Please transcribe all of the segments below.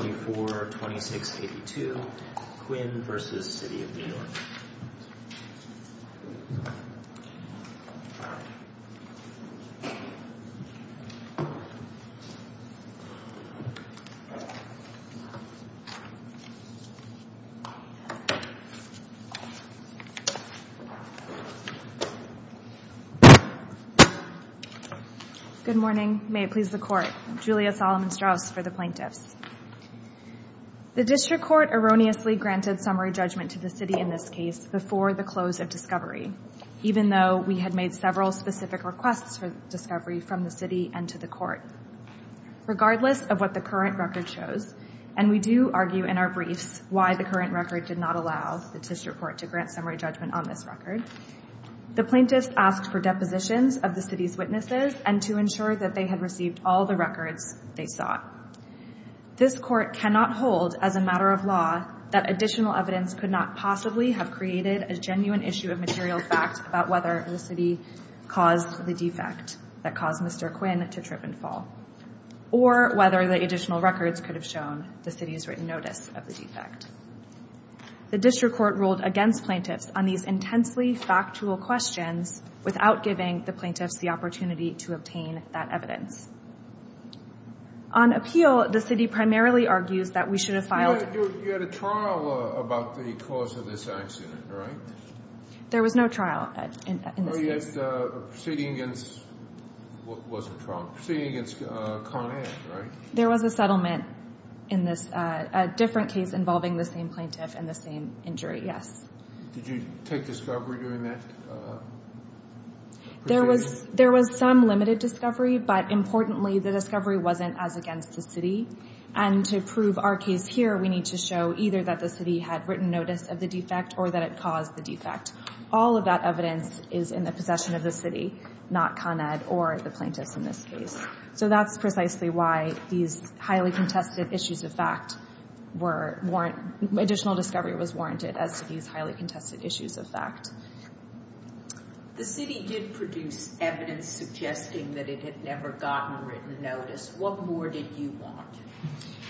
242682 Quinn versus City of New York. Good morning, may it please the court. Julia Solomon Strauss for the plaintiffs. The district court erroneously granted summary judgment to the city in this case before the close of discovery, even though we had made several specific requests for discovery from the city and to the court. Regardless of what the current record shows, and we do argue in our briefs why the current record did not allow the district court to grant summary judgment on this record. The plaintiffs asked for depositions of the city's witnesses and to ensure that they had received all the records they saw. This court cannot hold as a matter of law that additional evidence could not possibly have created a genuine issue of material fact about whether the city caused the defect that caused Mr. Quinn to trip and fall. Or whether the additional records could have shown the city's written notice of the defect. The district court ruled against plaintiffs on these intensely factual questions without giving the plaintiffs the opportunity to obtain that evidence. On appeal, the city primarily argues that we should have filed. You had a trial about the cause of this accident, right? There was no trial in this case. Proceeding against Conair, right? There was a settlement in this different case involving the same plaintiff and the same injury, yes. Did you take discovery during that proceeding? There was some limited discovery, but importantly, the discovery wasn't as against the city. And to prove our case here, we need to show either that the city had written notice of the defect or that it caused the defect. All of that evidence is in the possession of the city, not Con Ed or the plaintiffs in this case. So that's precisely why these highly contested issues of fact were warranted. Additional discovery was warranted as to these highly contested issues of fact. The city did produce evidence suggesting that it had never gotten written notice. What more did you want?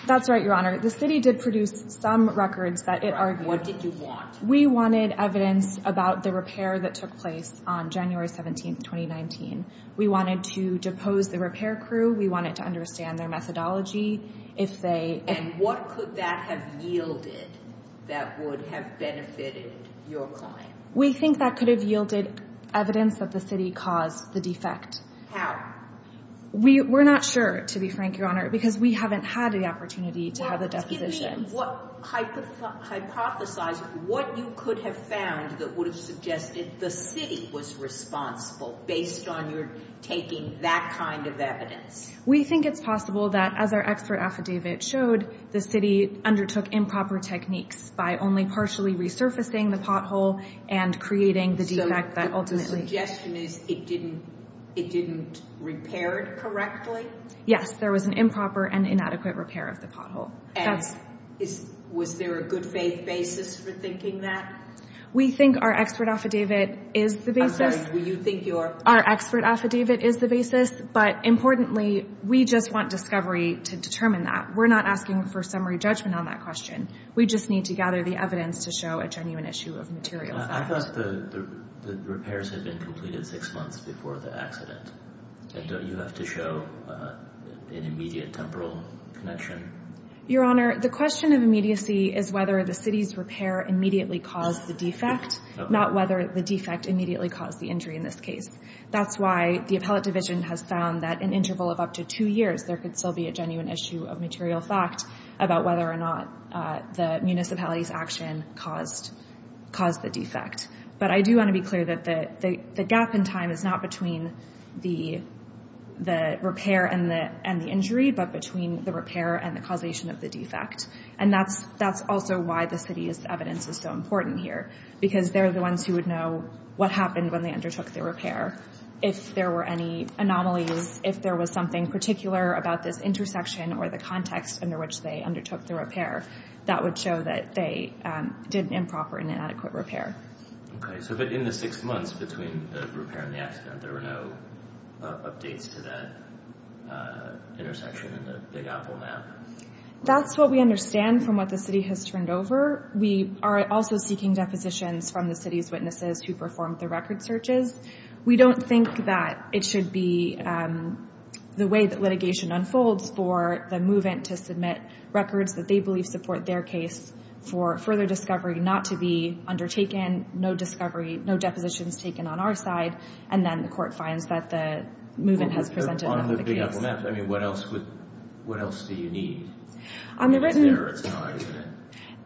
That's right, Your Honor. The city did produce some records that it argued. What did you want? We wanted evidence about the repair that took place on January 17, 2019. We wanted to depose the repair crew. We wanted to understand their methodology. And what could that have yielded that would have benefited your client? We think that could have yielded evidence that the city caused the defect. We're not sure, to be frank, Your Honor, because we haven't had the opportunity to have a deposition. Hypothesize what you could have found that would have suggested the city was responsible based on your taking that kind of evidence. We think it's possible that, as our expert affidavit showed, the city undertook improper techniques by only partially resurfacing the pothole and creating the defect that ultimately... So the suggestion is it didn't repair it correctly? Yes, there was an improper and inadequate repair of the pothole. And was there a good faith basis for thinking that? We think our expert affidavit is the basis. I'm sorry, you think your... Our expert affidavit is the basis. But importantly, we just want discovery to determine that. We're not asking for summary judgment on that question. We just need to gather the evidence to show a genuine issue of material fact. I thought the repairs had been completed six months before the accident. And don't you have to show an immediate temporal connection? Your Honor, the question of immediacy is whether the city's repair immediately caused the defect, not whether the defect immediately caused the injury in this case. That's why the appellate division has found that in an interval of up to two years, there could still be a genuine issue of material fact about whether or not the municipality's action caused the defect. But I do want to be clear that the gap in time is not between the repair and the injury, but between the repair and the causation of the defect. And that's also why the city's evidence is so important here. Because they're the ones who would know what happened when they undertook the repair. If there were any anomalies, if there was something particular about this intersection or the context under which they undertook the repair, that would show that they did improper and inadequate repair. Okay, so but in the six months between the repair and the accident, there were no updates to that intersection in the Big Apple map? That's what we understand from what the city has turned over. We are also seeking depositions from the city's witnesses who performed the record searches. We don't think that it should be the way that litigation unfolds for the move-in to submit records that they believe support their case for further discovery not to be undertaken. No discovery, no depositions taken on our side. And then the court finds that the move-in has presented another case. On the Big Apple map, I mean, what else do you need? It's there or it's not, isn't it?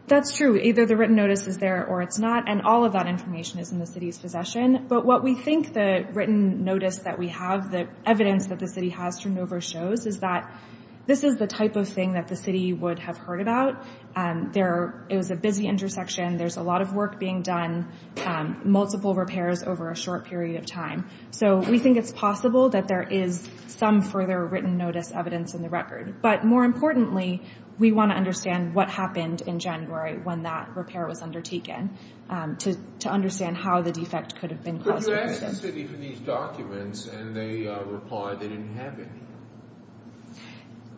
That's true. Either the written notice is there or it's not. And all of that information is in the city's possession. But what we think the written notice that we have, the evidence that the city has turned over shows, is that this is the type of thing that the city would have heard about. It was a busy intersection. There's a lot of work being done, multiple repairs over a short period of time. So we think it's possible that there is some further written notice evidence in the record. But more importantly, we want to understand what happened in January when that repair was undertaken to understand how the defect could have been caused. But you asked the city for these documents, and they replied they didn't have any.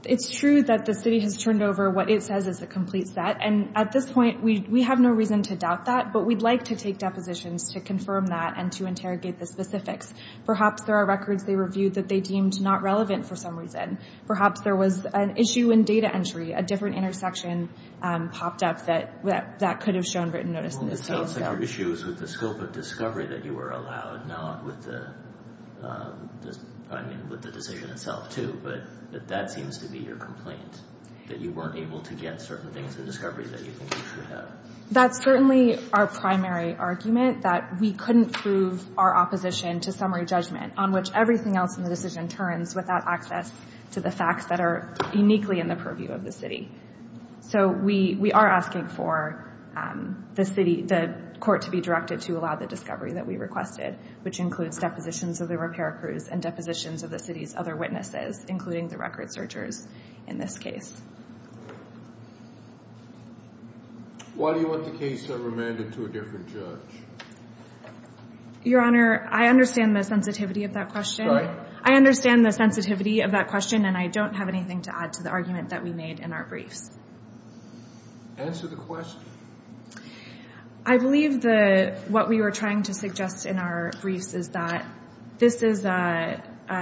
It's true that the city has turned over what it says is a complete set. And at this point, we have no reason to doubt that, but we'd like to take depositions to confirm that and to interrogate the specifics. Perhaps there are records they reviewed that they deemed not relevant for some reason. Perhaps there was an issue in data entry. A different intersection popped up that could have shown written notice in this case. Well, it sounds like your issue is with the scope of discovery that you were allowed, not with the decision itself, too. But that seems to be your complaint, that you weren't able to get certain things in discovery that you think you should have. That's certainly our primary argument, that we couldn't prove our opposition to summary judgment, on which everything else in the decision turns without access to the facts that are uniquely in the purview of the city. So we are asking for the court to be directed to allow the discovery that we requested, which includes depositions of the repair crews and depositions of the city's other witnesses, including the record searchers in this case. Why do you want the case remanded to a different judge? Your Honor, I understand the sensitivity of that question. Right. I understand the sensitivity of that question, and I don't have anything to add to the argument that we made in our briefs. Answer the question. I believe what we were trying to suggest in our briefs is that this is a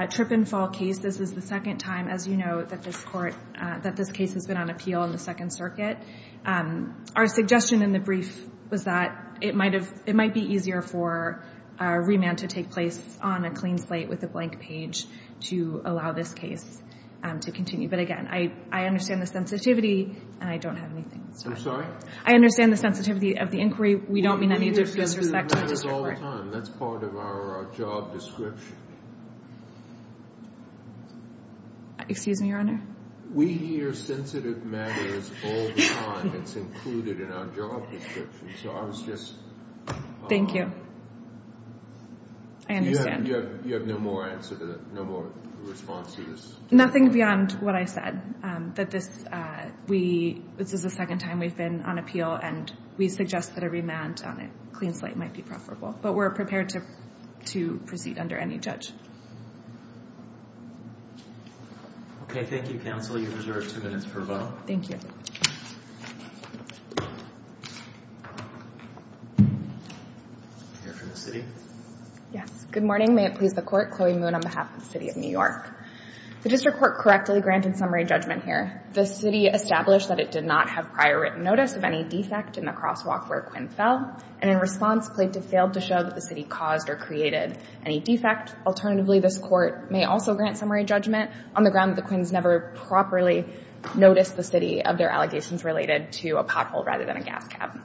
trip-and-fall case. This is the second time, as you know, that this case has been on appeal in the Second Circuit. Our suggestion in the brief was that it might be easier for a remand to take place on a clean slate with a blank page to allow this case to continue. But, again, I understand the sensitivity, and I don't have anything to say. I'm sorry? I understand the sensitivity of the inquiry. We don't mean any disrespect to the district court. We hear sensitive matters all the time. That's part of our job description. Excuse me, Your Honor? We hear sensitive matters all the time. It's included in our job description. So I was just… Thank you. I understand. You have no more response to this? Nothing beyond what I said, that this is the second time we've been on appeal, and we suggest that a remand on a clean slate might be preferable. But we're prepared to proceed under any judge. Okay. Thank you, counsel. You've reserved two minutes for a vote. Thank you. We'll hear from the city. Yes. Good morning. May it please the Court. Chloe Moon on behalf of the City of New York. The district court correctly granted summary judgment here. The city established that it did not have prior written notice of any defect in the crosswalk where Quinn fell, and in response, plaintiff failed to show that the city caused or created any defect. Alternatively, this court may also grant summary judgment on the ground that the Quinns never properly noticed the city of their allegations related to a pothole rather than a gas cap.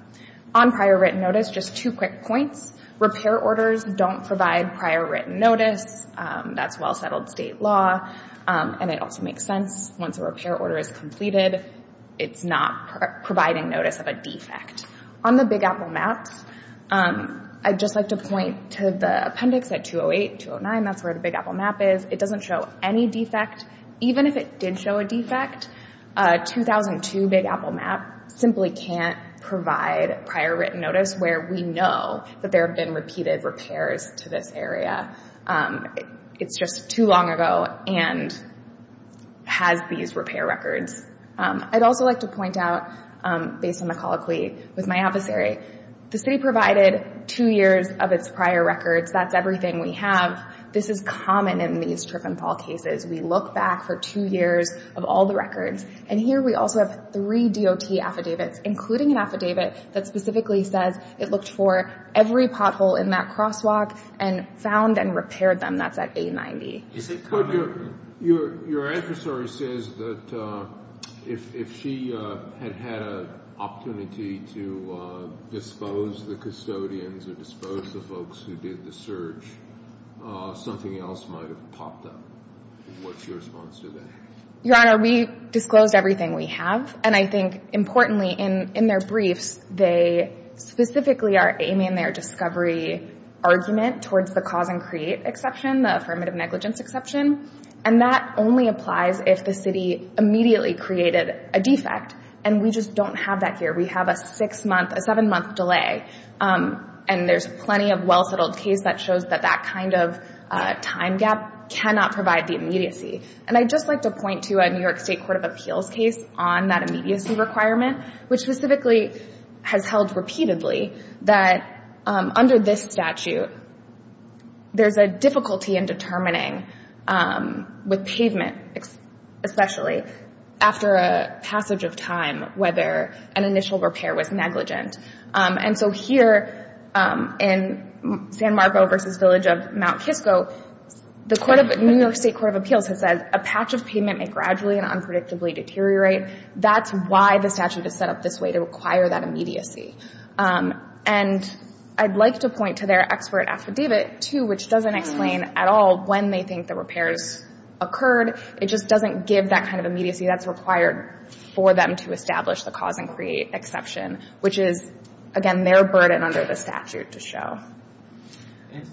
On prior written notice, just two quick points. Repair orders don't provide prior written notice. That's well-settled state law, and it also makes sense. Once a repair order is completed, it's not providing notice of a defect. On the Big Apple maps, I'd just like to point to the appendix at 208, 209. That's where the Big Apple map is. It doesn't show any defect. Even if it did show a defect, a 2002 Big Apple map simply can't provide prior written notice where we know that there have been repeated repairs to this area. It's just too long ago and has these repair records. I'd also like to point out, based on the colloquy with my adversary, the city provided two years of its prior records. That's everything we have. This is common in these trip and fall cases. We look back for two years of all the records, and here we also have three DOT affidavits, including an affidavit that specifically says it looked for every pothole in that crosswalk and found and repaired them. That's at 890. Your adversary says that if she had had an opportunity to dispose the custodians or dispose the folks who did the search, something else might have popped up. What's your response to that? Your Honor, we disclosed everything we have, and I think, importantly, in their briefs, they specifically are aiming their discovery argument towards the cause and create exception, the affirmative negligence exception, and that only applies if the city immediately created a defect, and we just don't have that here. We have a six-month, a seven-month delay, and there's plenty of well-settled case that shows that that kind of time gap cannot provide the immediacy. And I'd just like to point to a New York State Court of Appeals case on that immediacy requirement, which specifically has held repeatedly that under this statute, there's a difficulty in determining, with pavement especially, after a passage of time whether an initial repair was negligent. And so here in San Marcos v. Village of Mount Kisco, the New York State Court of Appeals has said, a patch of pavement may gradually and unpredictably deteriorate. That's why the statute is set up this way, to require that immediacy. And I'd like to point to their expert affidavit, too, which doesn't explain at all when they think the repairs occurred. It just doesn't give that kind of immediacy that's required for them to establish the cause and create exception, which is, again, their burden under the statute to show.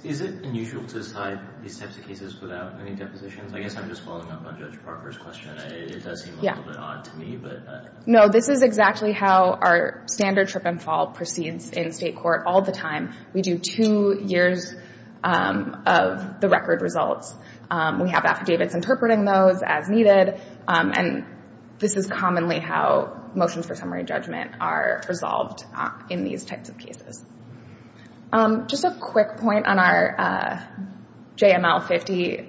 Is it unusual to decide these types of cases without any depositions? I guess I'm just following up on Judge Parker's question. It does seem a little bit odd to me. No, this is exactly how our standard trip and fall proceeds in state court all the time. We do two years of the record results. We have affidavits interpreting those as needed. And this is commonly how motions for summary judgment are resolved in these types of cases. Just a quick point on our JML 50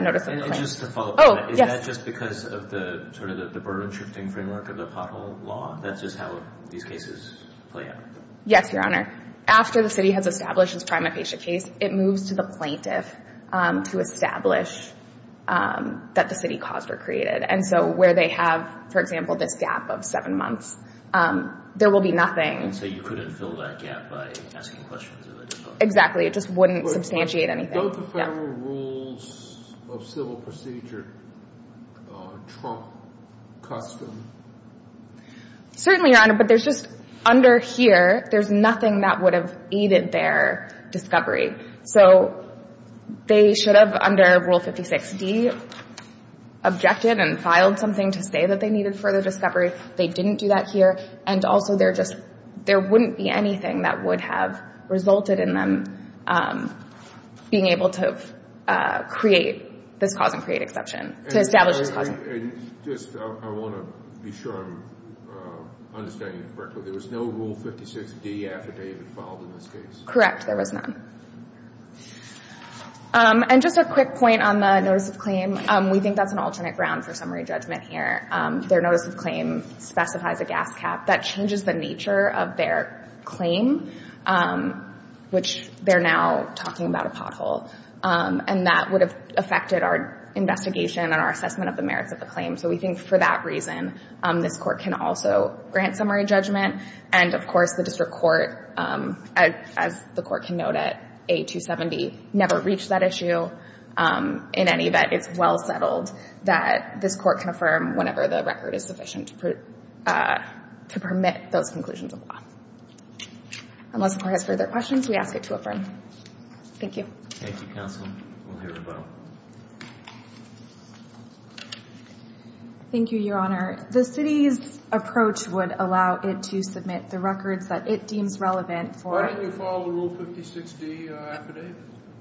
notice of plaintiff. And just to follow up on that. Oh, yes. Is that just because of the sort of the burden-shifting framework of the pothole law? That's just how these cases play out? Yes, Your Honor. After the city has established its prima facie case, it moves to the plaintiff to establish that the city cause were created. And so where they have, for example, this gap of seven months, there will be nothing. And so you couldn't fill that gap by asking questions of a depositor? Exactly. It just wouldn't substantiate anything. But don't the federal rules of civil procedure trump custom? Certainly, Your Honor. But there's just under here, there's nothing that would have aided their discovery. So they should have, under Rule 56D, objected and filed something to say that they needed further discovery. They didn't do that here. And also, there just — there wouldn't be anything that would have resulted in them being able to create this cause and create exception, to establish this cause. And just — I want to be sure I'm understanding it correctly. There was no Rule 56D after David filed in this case? Correct. There was none. And just a quick point on the notice of claim. We think that's an alternate ground for summary judgment here. Their notice of claim specifies a gas cap. That changes the nature of their claim, which they're now talking about a pothole. And that would have affected our investigation and our assessment of the merits of the claim. So we think, for that reason, this Court can also grant summary judgment. And, of course, the District Court, as the Court can note at A270, never reached that issue. In any event, it's well settled that this Court can affirm whenever the record is sufficient to permit those conclusions of law. Unless the Court has further questions, we ask it to affirm. Thank you. Thank you, Counsel. We'll hear a vote. Thank you, Your Honor. The City's approach would allow it to submit the records that it deems relevant for — Why didn't you file a Rule 56D affidavit?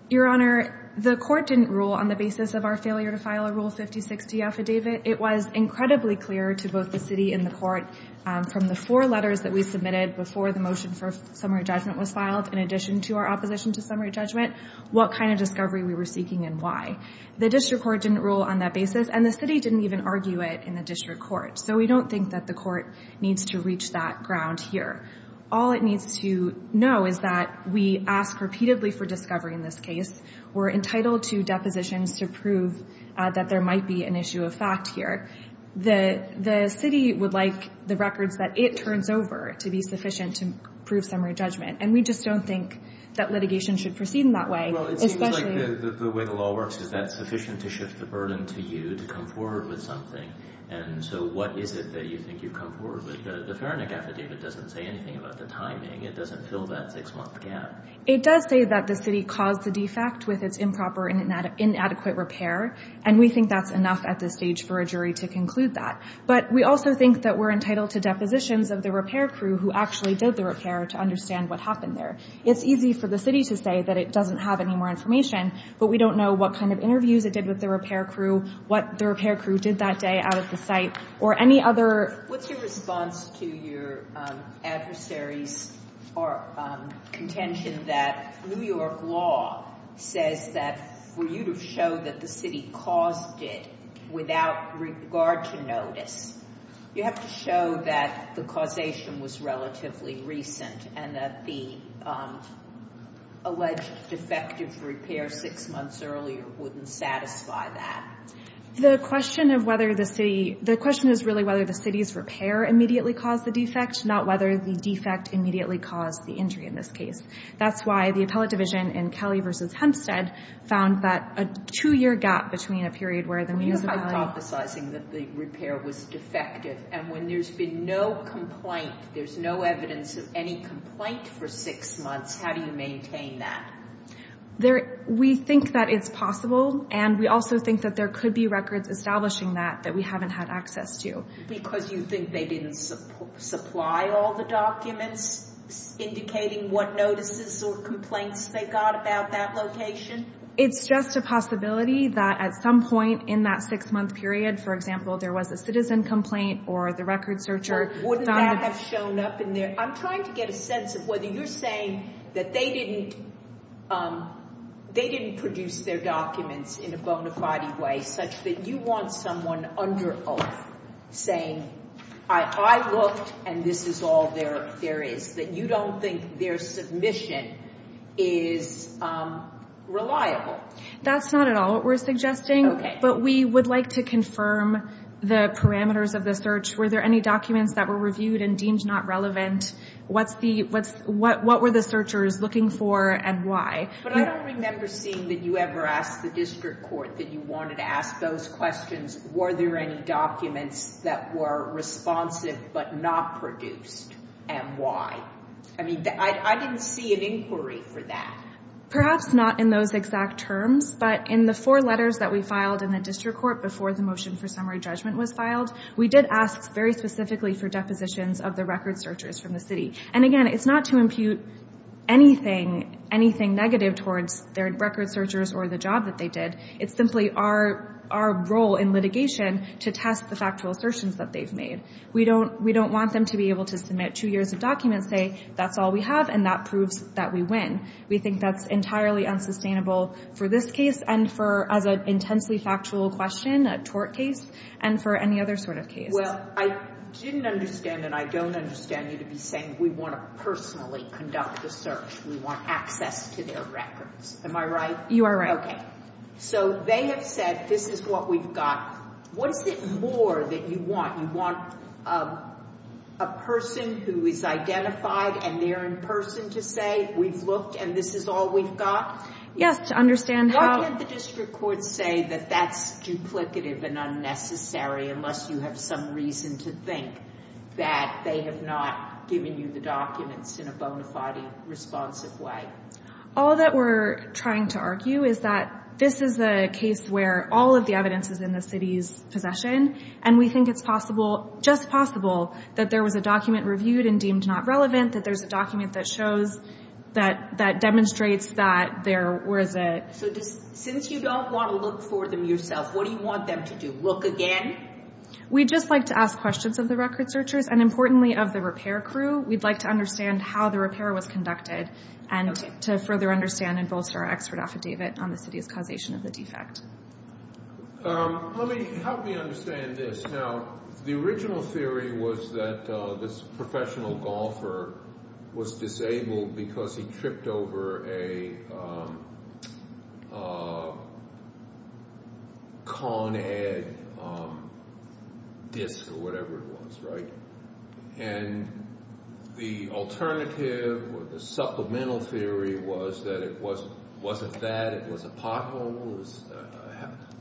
Your Honor, the Court didn't rule on the basis of our failure to file a Rule 56D affidavit. It was incredibly clear to both the City and the Court from the four letters that we submitted before the motion for summary judgment was filed, in addition to our opposition to summary judgment, what kind of discovery we were seeking and why. The District Court didn't rule on that basis, and the City didn't even argue it in the District Court. So we don't think that the Court needs to reach that ground here. All it needs to know is that we ask repeatedly for discovery in this case. We're entitled to depositions to prove that there might be an issue of fact here. The City would like the records that it turns over to be sufficient to prove summary judgment, and we just don't think that litigation should proceed in that way. Well, it seems like the way the law works is that's sufficient to shift the burden to you to come forward with something. And so what is it that you think you've come forward with? The Ferenac affidavit doesn't say anything about the timing. It doesn't fill that six-month gap. It does say that the City caused the defect with its improper and inadequate repair, and we think that's enough at this stage for a jury to conclude that. But we also think that we're entitled to depositions of the repair crew who actually did the repair to understand what happened there. It's easy for the City to say that it doesn't have any more information, but we don't know what kind of interviews it did with the repair crew, what the repair crew did that day out at the site, or any other. What's your response to your adversary's contention that New York law says that for you to show that the City caused it without regard to notice, you have to show that the causation was relatively recent and that the alleged defective repair six months earlier wouldn't satisfy that? The question is really whether the City's repair immediately caused the defect, not whether the defect immediately caused the injury in this case. That's why the appellate division in Kelly v. Hempstead found that a two-year gap between a period where the municipality— You have been emphasizing that the repair was defective, and when there's been no complaint, there's no evidence of any complaint for six months, how do you maintain that? We think that it's possible, and we also think that there could be records establishing that that we haven't had access to. Because you think they didn't supply all the documents indicating what notices or complaints they got about that location? It's just a possibility that at some point in that six-month period, for example, there was a citizen complaint or the record searcher— Wouldn't that have shown up in there? I'm trying to get a sense of whether you're saying that they didn't produce their documents in a bona fide way, such that you want someone under oath saying, I looked, and this is all there is, that you don't think their submission is reliable. That's not at all what we're suggesting, but we would like to confirm the parameters of the search. Were there any documents that were reviewed and deemed not relevant? What were the searchers looking for, and why? But I don't remember seeing that you ever asked the district court that you wanted to ask those questions, were there any documents that were responsive but not produced, and why? I mean, I didn't see an inquiry for that. Perhaps not in those exact terms, but in the four letters that we filed in the district court before the motion for summary judgment was filed, we did ask very specifically for depositions of the record searchers from the city. And again, it's not to impute anything negative towards their record searchers or the job that they did. It's simply our role in litigation to test the factual assertions that they've made. We don't want them to be able to submit two years of documents, say, that's all we have, and that proves that we win. We think that's entirely unsustainable for this case and for, as an intensely factual question, a tort case, and for any other sort of case. Well, I didn't understand, and I don't understand you to be saying we want to personally conduct a search. We want access to their records. Am I right? You are right. Okay. So they have said this is what we've got. What is it more that you want? You want a person who is identified and they're in person to say we've looked and this is all we've got? Yes, to understand how. Why can't the district court say that that's duplicative and unnecessary unless you have some reason to think that they have not given you the documents in a bona fide responsive way? All that we're trying to argue is that this is a case where all of the evidence is in the city's possession, and we think it's possible, just possible, that there was a document reviewed and deemed not relevant, that there's a document that shows, that demonstrates that there was a... So since you don't want to look for them yourself, what do you want them to do, look again? We'd just like to ask questions of the record searchers and, importantly, of the repair crew. We'd like to understand how the repair was conducted and to further understand and bolster our expert affidavit on the city's causation of the defect. How do we understand this? Now, the original theory was that this professional golfer was disabled because he tripped over a Con-Ed disc or whatever it was, right? And the alternative or the supplemental theory was that it wasn't that, it was a pothole.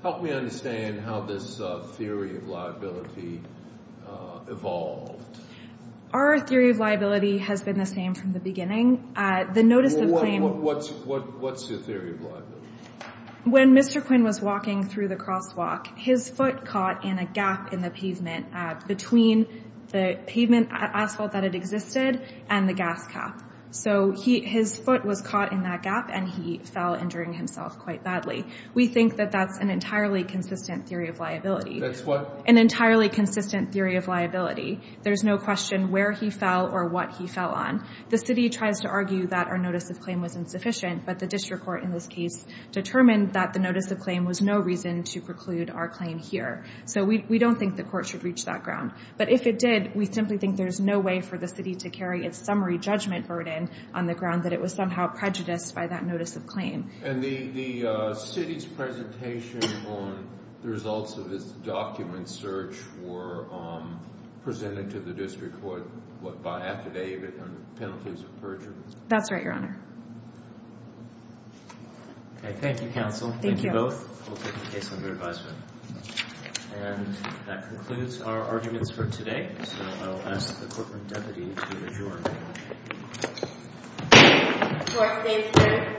Help me understand how this theory of liability evolved. Our theory of liability has been the same from the beginning. What's your theory of liability? When Mr. Quinn was walking through the crosswalk, his foot caught in a gap in the pavement between the pavement asphalt that had existed and the gas cap. So his foot was caught in that gap and he fell injuring himself quite badly. We think that that's an entirely consistent theory of liability. That's what? An entirely consistent theory of liability. There's no question where he fell or what he fell on. The city tries to argue that our notice of claim was insufficient, but the district court in this case determined that the notice of claim was no reason to preclude our claim here. So we don't think the court should reach that ground. But if it did, we simply think there's no way for the city to carry its summary judgment burden on the ground that it was somehow prejudiced by that notice of claim. And the city's presentation on the results of this document search were presented to the district court what, by affidavit on penalties of perjury? That's right, Your Honor. Okay. Thank you, counsel. Thank you both. We'll take the case under advisement. And that concludes our arguments for today. So I'll ask the courtroom deputy to adjourn. Court is adjourned.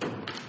Thank you.